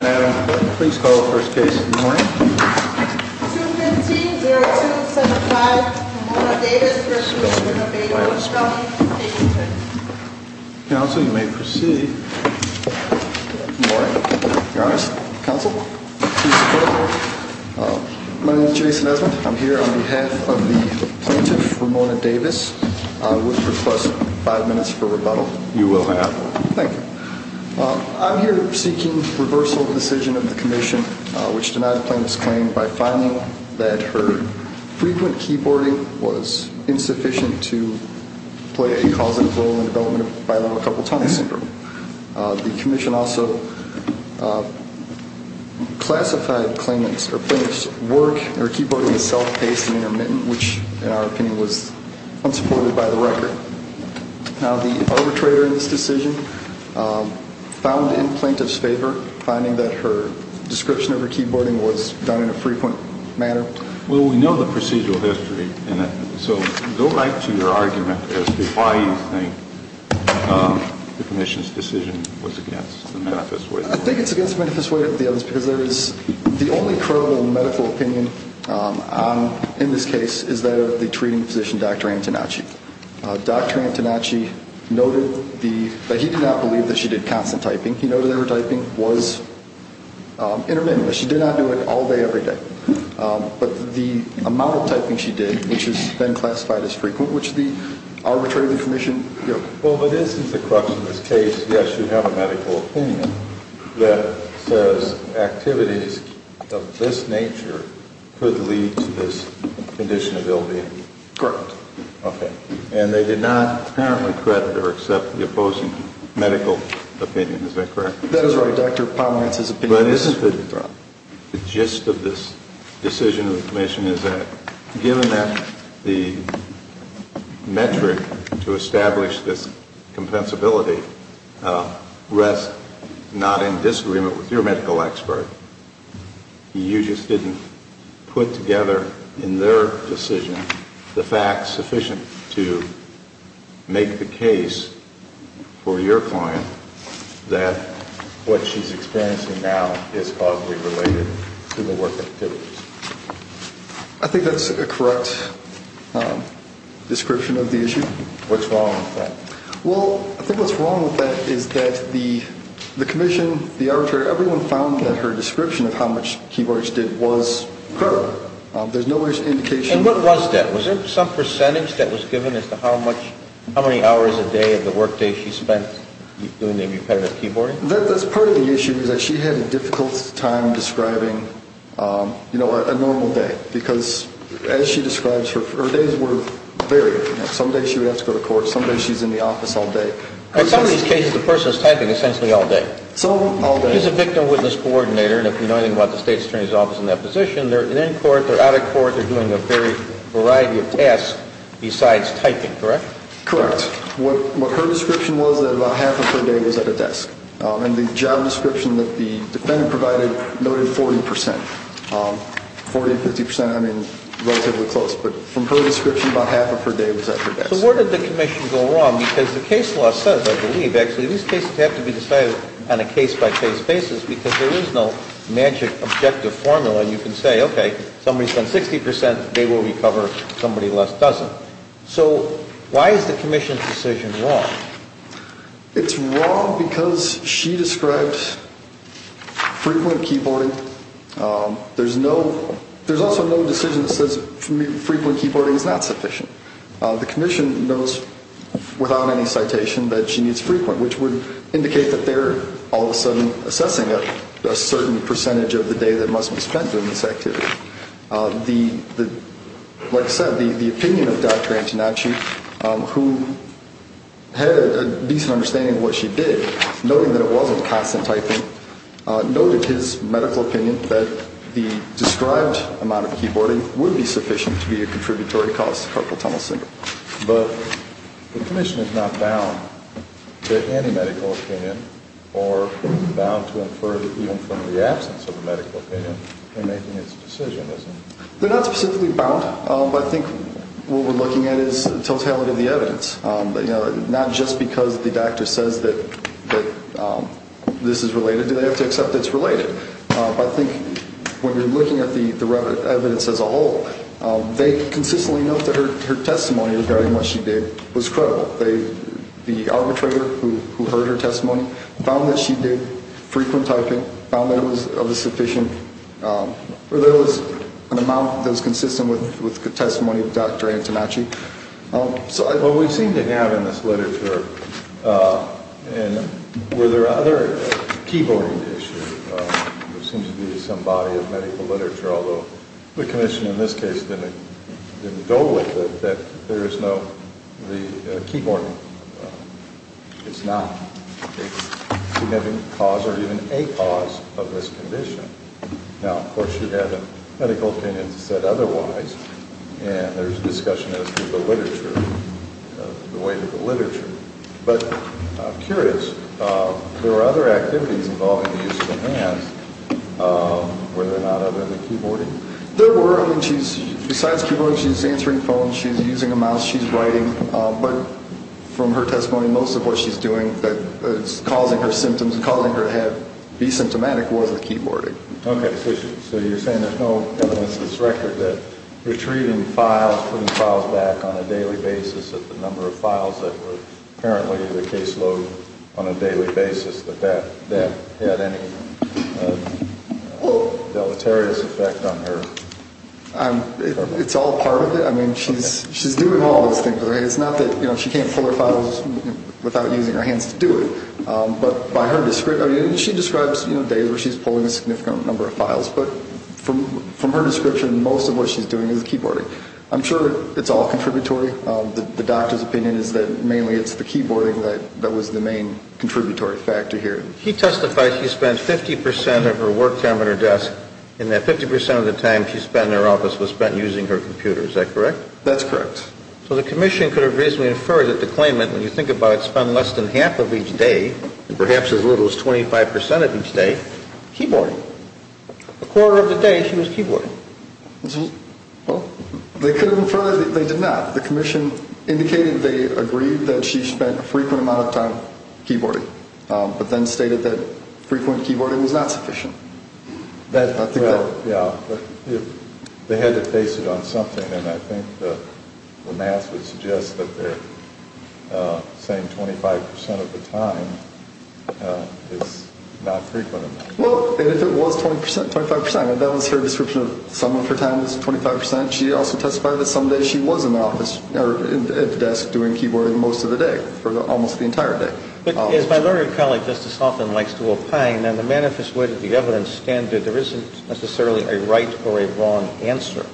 Adam, please call the first case in the morning. 215-0275, Ramona Davis v. Winnebago. Counsel, you may proceed. Good morning, Your Honor. Counsel? My name is Jason Esmond. I'm here on behalf of the plaintiff, Ramona Davis. I would request five minutes for rebuttal. You will have. Thank you. I'm here seeking reversal of the decision of the commission which denied the plaintiff's claim by finding that her frequent keyboarding was insufficient to play a causative role in the development of Bilingual Couple Tongue Syndrome. The commission also classified the plaintiff's keyboarding as self-paced and intermittent, which, in our opinion, was unsupported by the record. The arbitrator in this decision found in plaintiff's favor, finding that her description of her keyboarding was done in a frequent manner. Well, we know the procedural history in it, so go right to your argument as to why you think the commission's decision was against the manifest way. I think it's against the manifest way of the evidence because there is the only credible medical opinion in this case is that of the treating physician, Dr. Antonacci. Dr. Antonacci noted that he did not believe that she did constant typing. He noted that her typing was intermittent. She did not do it all day every day. But the amount of typing she did, which has been classified as frequent, which the arbitrator of the commission, you know. Well, but isn't the crux of this case, yes, that says activities of this nature could lead to this condition of ill-being? Correct. Okay. And they did not apparently credit or accept the opposing medical opinion, is that correct? That is right, Dr. Pomerantz's opinion. But isn't the gist of this decision of the commission is that, the metric to establish this compensability rests not in disagreement with your medical expert. You just didn't put together in their decision the facts sufficient to make the case for your client that what she's experiencing now is causally related to the work activities. I think that's a correct description of the issue. What's wrong with that? Well, I think what's wrong with that is that the commission, the arbitrator, everyone found that her description of how much keyboards she did was correct. There's no indication. And what was that? Was there some percentage that was given as to how much, how many hours a day of the work day she spent doing repetitive keyboarding? That's part of the issue, is that she had a difficult time describing a normal day. Because as she describes, her days were varied. Some days she would have to go to court. Some days she's in the office all day. In some of these cases, the person is typing essentially all day. All day. She's a victim witness coordinator, and if you know anything about the state attorney's office in that position, they're in court, they're out of court, they're doing a variety of tasks besides typing, correct? Correct. What her description was that about half of her day was at a desk. And the job description that the defendant provided noted 40 percent. 40 to 50 percent, I mean, relatively close. But from her description, about half of her day was at her desk. So where did the commission go wrong? Because the case law says, I believe, actually, these cases have to be decided on a case-by-case basis because there is no magic objective formula. You can say, okay, somebody spends 60 percent, they will recover, somebody less doesn't. So why is the commission's decision wrong? It's wrong because she described frequent keyboarding. There's also no decision that says frequent keyboarding is not sufficient. The commission knows without any citation that she needs frequent, which would indicate that they're all of a sudden assessing a certain percentage of the day that must be spent on this activity. Like I said, the opinion of Dr. Antonacci, who had a decent understanding of what she did, noting that it wasn't constant typing, noted his medical opinion that the described amount of keyboarding would be sufficient to be a contributory cause to carpal tunnel syndrome. But the commission is not bound to any medical opinion or bound to infer even from the absence of a medical opinion in making its decision, is it? They're not specifically bound. But I think what we're looking at is totality of the evidence, not just because the doctor says that this is related, do they have to accept it's related. But I think when you're looking at the evidence as a whole, they consistently note that her testimony regarding what she did was credible. The arbitrator who heard her testimony found that she did frequent typing, found that it was sufficient, or there was an amount that was consistent with the testimony of Dr. Antonacci. What we seem to have in this literature, and were there other keyboarding issues, there seems to be some body of medical literature, although the commission in this case didn't go with it, that there is no keyboarding. It's not a significant cause or even a cause of this condition. Now, of course, she had a medical opinion that said otherwise, and there's discussion as to the weight of the literature. But I'm curious, there are other activities involving the use of the hands, were there not other than keyboarding? There were. I mean, besides keyboarding, she's answering phones, she's using a mouse, she's writing. But from her testimony, most of what she's doing that is causing her symptoms, causing her to be symptomatic, was the keyboarding. Okay. So you're saying there's no evidence in this record that retrieving files, putting files back on a daily basis at the number of files that were apparently in the caseload on a daily basis, that that had any deleterious effect on her? It's all part of it. I mean, she's doing all these things. It's not that she can't pull her files without using her hands to do it. But by her description, she describes days where she's pulling a significant number of files. But from her description, most of what she's doing is keyboarding. I'm sure it's all contributory. The doctor's opinion is that mainly it's the keyboarding that was the main contributory factor here. She testified she spent 50% of her work time at her desk, and that 50% of the time she spent in her office was spent using her computer. Is that correct? That's correct. So the commission could have reasonably inferred that the claimant, when you think about it, spent less than half of each day, and perhaps as little as 25% of each day, keyboarding. A quarter of the day she was keyboarding. They could have inferred that they did not. The commission indicated they agreed that she spent a frequent amount of time keyboarding, but then stated that frequent keyboarding was not sufficient. They had to base it on something, and I think the math would suggest that they're saying 25% of the time is not frequent enough. Well, and if it was 20%, 25%. That was her description of some of her time was 25%. She also testified that some days she was in the office, or at the desk doing keyboarding most of the day for almost the entire day. But as my learned colleague Justice Hoffman likes to opine, in the manifest way that the evidence stands, there isn't necessarily a right or a wrong answer.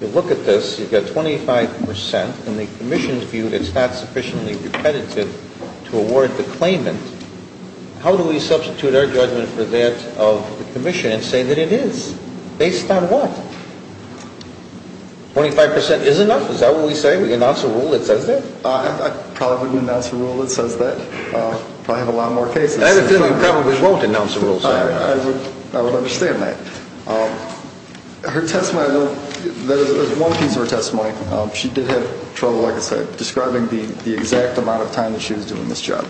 You look at this, you've got 25%, and the commission's view that it's not sufficiently repetitive to award the claimant. How do we substitute our judgment for that of the commission and say that it is? Based on what? 25% is enough? Is that what we say? We announce a rule that says that? I probably wouldn't announce a rule that says that. I probably have a lot more cases. I have a feeling you probably won't announce a rule saying that. I would understand that. She did have trouble, like I said, describing the exact amount of time that she was doing this job.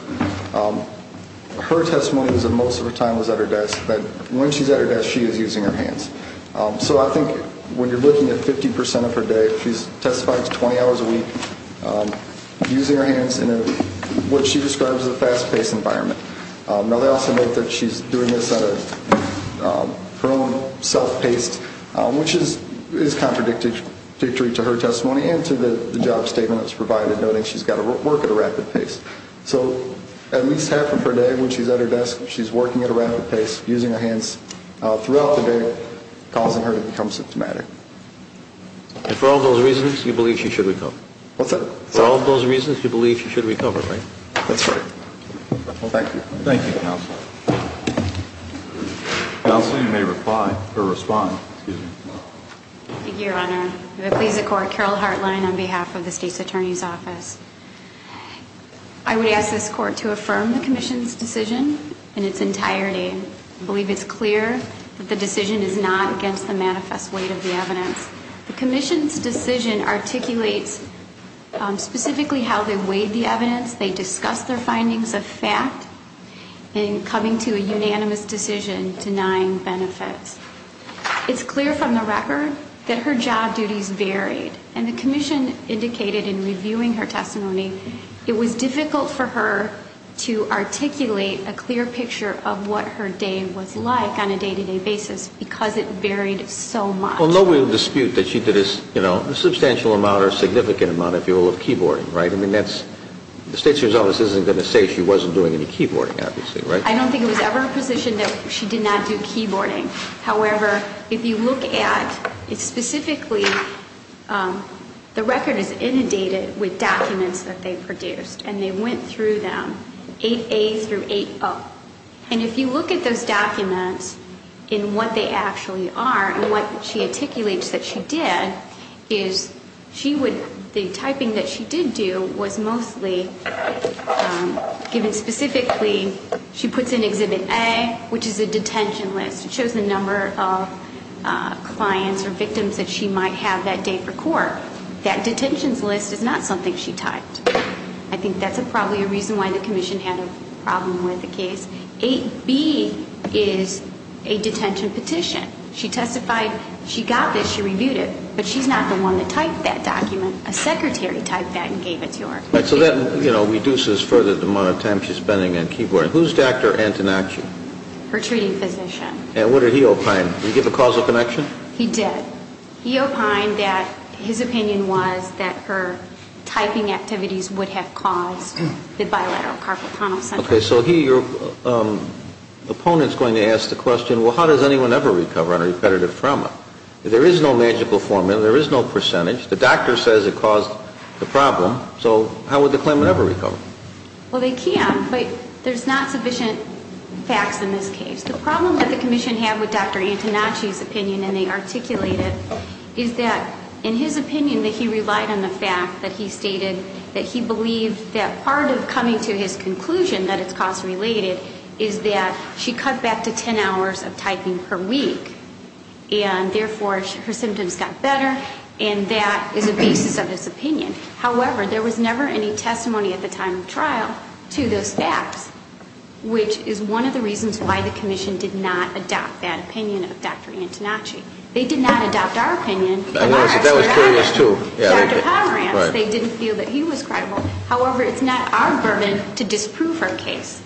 Her testimony was that most of her time was at her desk, but when she's at her desk, she is using her hands. So I think when you're looking at 50% of her day, she's testified to 20 hours a week using her hands in what she describes as a fast-paced environment. Now, they also note that she's doing this at her own self-paced, which is contradictory to her testimony and to the job statement that's provided, noting she's got to work at a rapid pace. So at least half of her day when she's at her desk, she's working at a rapid pace using her hands throughout the day, causing her to become symptomatic. And for all those reasons, you believe she should recover? What's that? For all those reasons, you believe she should recover, right? That's right. Well, thank you. Thank you, Counsel. Counsel, you may reply or respond. Thank you, Your Honor. I'm going to please the Court. Carol Hartline on behalf of the State's Attorney's Office. I would ask this Court to affirm the Commission's decision in its entirety. I believe it's clear that the decision is not against the manifest weight of the evidence. The Commission's decision articulates specifically how they weighed the evidence. They discussed their findings of fact in coming to a unanimous decision denying benefits. It's clear from the record that her job duties varied, and the Commission indicated in reviewing her testimony it was difficult for her to articulate a clear picture of what her day was like on a day-to-day basis because it varied so much. Well, no real dispute that she did a substantial amount or significant amount, if you will, of keyboarding, right? I mean, the State's Attorney's Office isn't going to say she wasn't doing any keyboarding, obviously, right? I don't think it was ever a position that she did not do keyboarding. However, if you look at it specifically, the record is inundated with documents that they produced, and they went through them, 8A through 8O. And if you look at those documents and what they actually are and what she articulates that she did, the typing that she did do was mostly given specifically, she puts in Exhibit A, which is a detention list. It shows the number of clients or victims that she might have that day for court. That detentions list is not something she typed. I think that's probably a reason why the Commission had a problem with the case. 8B is a detention petition. She testified she got this. She reviewed it. But she's not the one that typed that document. A secretary typed that and gave it to her. So that reduces further the amount of time she's spending on keyboarding. Who's Dr. Antonacci? Her treating physician. And what did he opine? Did he give a causal connection? He did. He opined that his opinion was that her typing activities would have caused the bilateral carpal tunnel syndrome. Okay. So he, your opponent, is going to ask the question, well, how does anyone ever recover on a repetitive trauma? There is no magical formula. There is no percentage. The doctor says it caused the problem. So how would the claimant ever recover? Well, they can, but there's not sufficient facts in this case. The problem that the Commission had with Dr. Antonacci's opinion, and they articulated, is that in his opinion that he relied on the fact that he stated that he believed that part of coming to his conclusion that it's cost-related is that she cut back to 10 hours of typing per week. And, therefore, her symptoms got better. And that is the basis of his opinion. However, there was never any testimony at the time of trial to those facts, which is one of the reasons why the Commission did not adopt that opinion of Dr. Antonacci. They did not adopt our opinion. That was curious, too. Dr. Pomerantz, they didn't feel that he was credible. However, it's not our burden to disprove her case.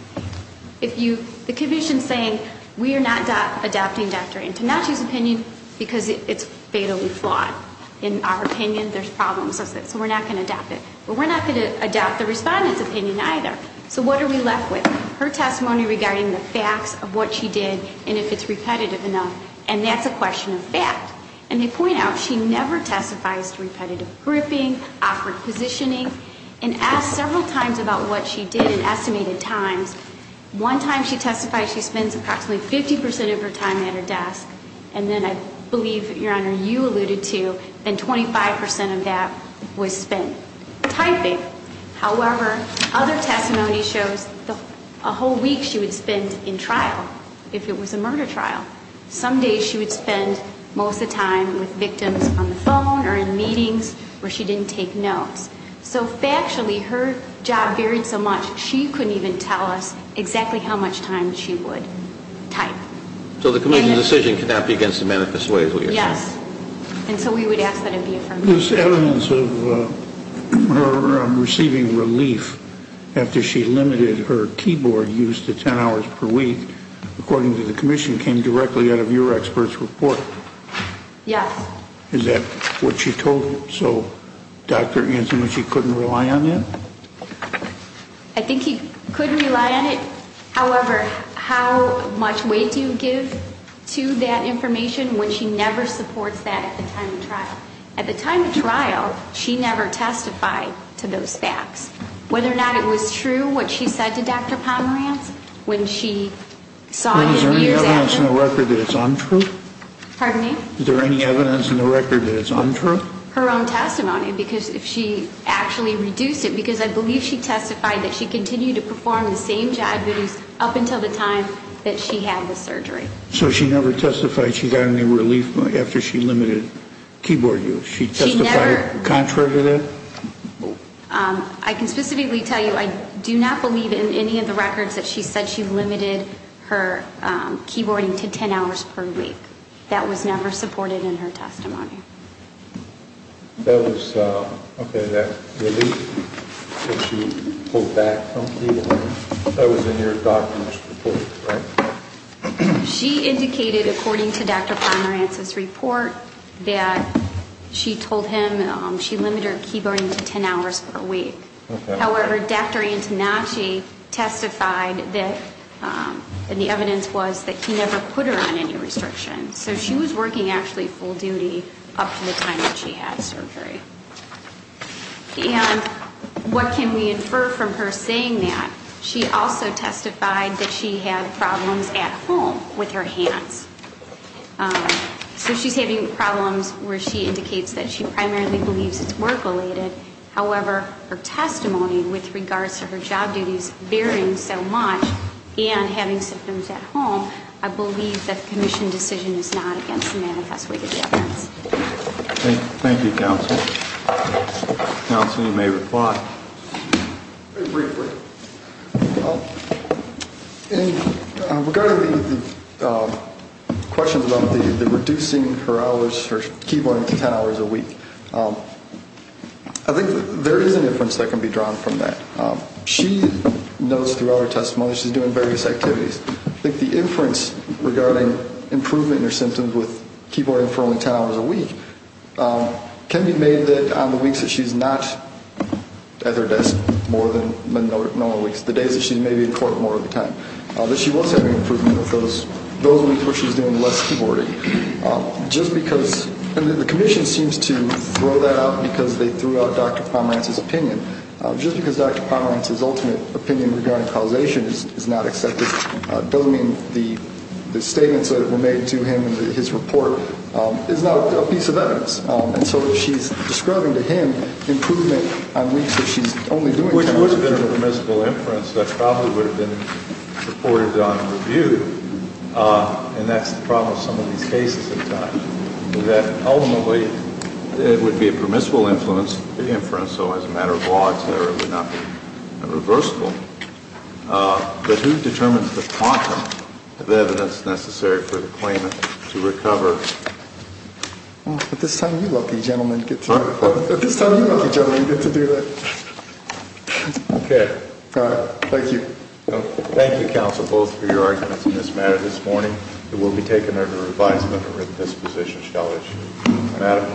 The Commission is saying we are not adopting Dr. Antonacci's opinion because it's fatally flawed. In our opinion, there's problems with it, so we're not going to adopt it. But we're not going to adopt the respondent's opinion, either. So what are we left with? Her testimony regarding the facts of what she did and if it's repetitive enough. And that's a question of fact. And they point out she never testifies to repetitive gripping, awkward positioning, and asked several times about what she did in estimated times. One time she testified she spends approximately 50% of her time at her desk, and then I believe, Your Honor, you alluded to, then 25% of that was spent typing. However, other testimony shows a whole week she would spend in trial if it was a murder trial. Some days she would spend most of the time with victims on the phone or in meetings where she didn't take notes. So factually, her job varied so much, she couldn't even tell us exactly how much time she would type. So the Commission's decision cannot be against the manifest way, is what you're saying? Yes. And so we would ask that it be affirmed. There's evidence of her receiving relief after she limited her keyboard use to 10 hours per week, according to the Commission, came directly out of your expert's report. Yes. Is that what she told you? So Dr. Antonucci couldn't rely on that? I think he couldn't rely on it. However, how much weight do you give to that information when she never supports that at the time of trial? At the time of trial, she never testified to those facts. Whether or not it was true, what she said to Dr. Pomerantz, when she saw him years after. Is there any evidence in the record that it's untrue? Pardon me? Is there any evidence in the record that it's untrue? Her own testimony, because if she actually reduced it, because I believe she testified that she continued to perform the same job use up until the time that she had the surgery. So she never testified she got any relief after she limited keyboard use? She testified contrary to that? I can specifically tell you I do not believe in any of the records that she said she limited her keyboarding to 10 hours per week. That was, okay, that relief that she pulled back from keyboarding? That was in your doctor's report, right? She indicated, according to Dr. Pomerantz's report, that she told him she limited her keyboarding to 10 hours per week. However, Dr. Antonucci testified that the evidence was that he never put her on any restriction. So she was working actually full duty up to the time that she had surgery. And what can we infer from her saying that? She also testified that she had problems at home with her hands. So she's having problems where she indicates that she primarily believes it's work-related. However, her testimony with regards to her job duties varying so much and having symptoms at home, I believe that the commission decision is not against the manifest way of the evidence. Thank you, Counsel. Counsel, you may reply. Very briefly, in regard to the questions about the reducing her hours, her keyboarding to 10 hours a week, I think there is an inference that can be drawn from that. She knows throughout her testimony she's doing various activities. I think the inference regarding improvement in her symptoms with keyboarding for only 10 hours a week can be made that on the weeks that she's not at her desk more than normal weeks, the days that she's maybe in court more of the time, that she was having improvement with those weeks where she was doing less keyboarding. Just because the commission seems to throw that out because they threw out Dr. Pomerantz's opinion. Just because Dr. Pomerantz's ultimate opinion regarding causation is not accepted doesn't mean the statements that were made to him in his report is not a piece of evidence. And so she's describing to him improvement on weeks that she's only doing 10 hours a week. Which would have been a permissible inference that probably would have been reported on review, and that's the problem with some of these cases at times, that ultimately it would be a permissible inference. So as a matter of law, it's there. It would not be irreversible. But who determines the quantum of evidence necessary for the claimant to recover? At this time, you lucky gentlemen get to do that. At this time, you lucky gentlemen get to do that. Okay. Thank you. Thank you, counsel, both for your arguments in this matter. This morning it will be taken under advisement that this position shall issue. Madame.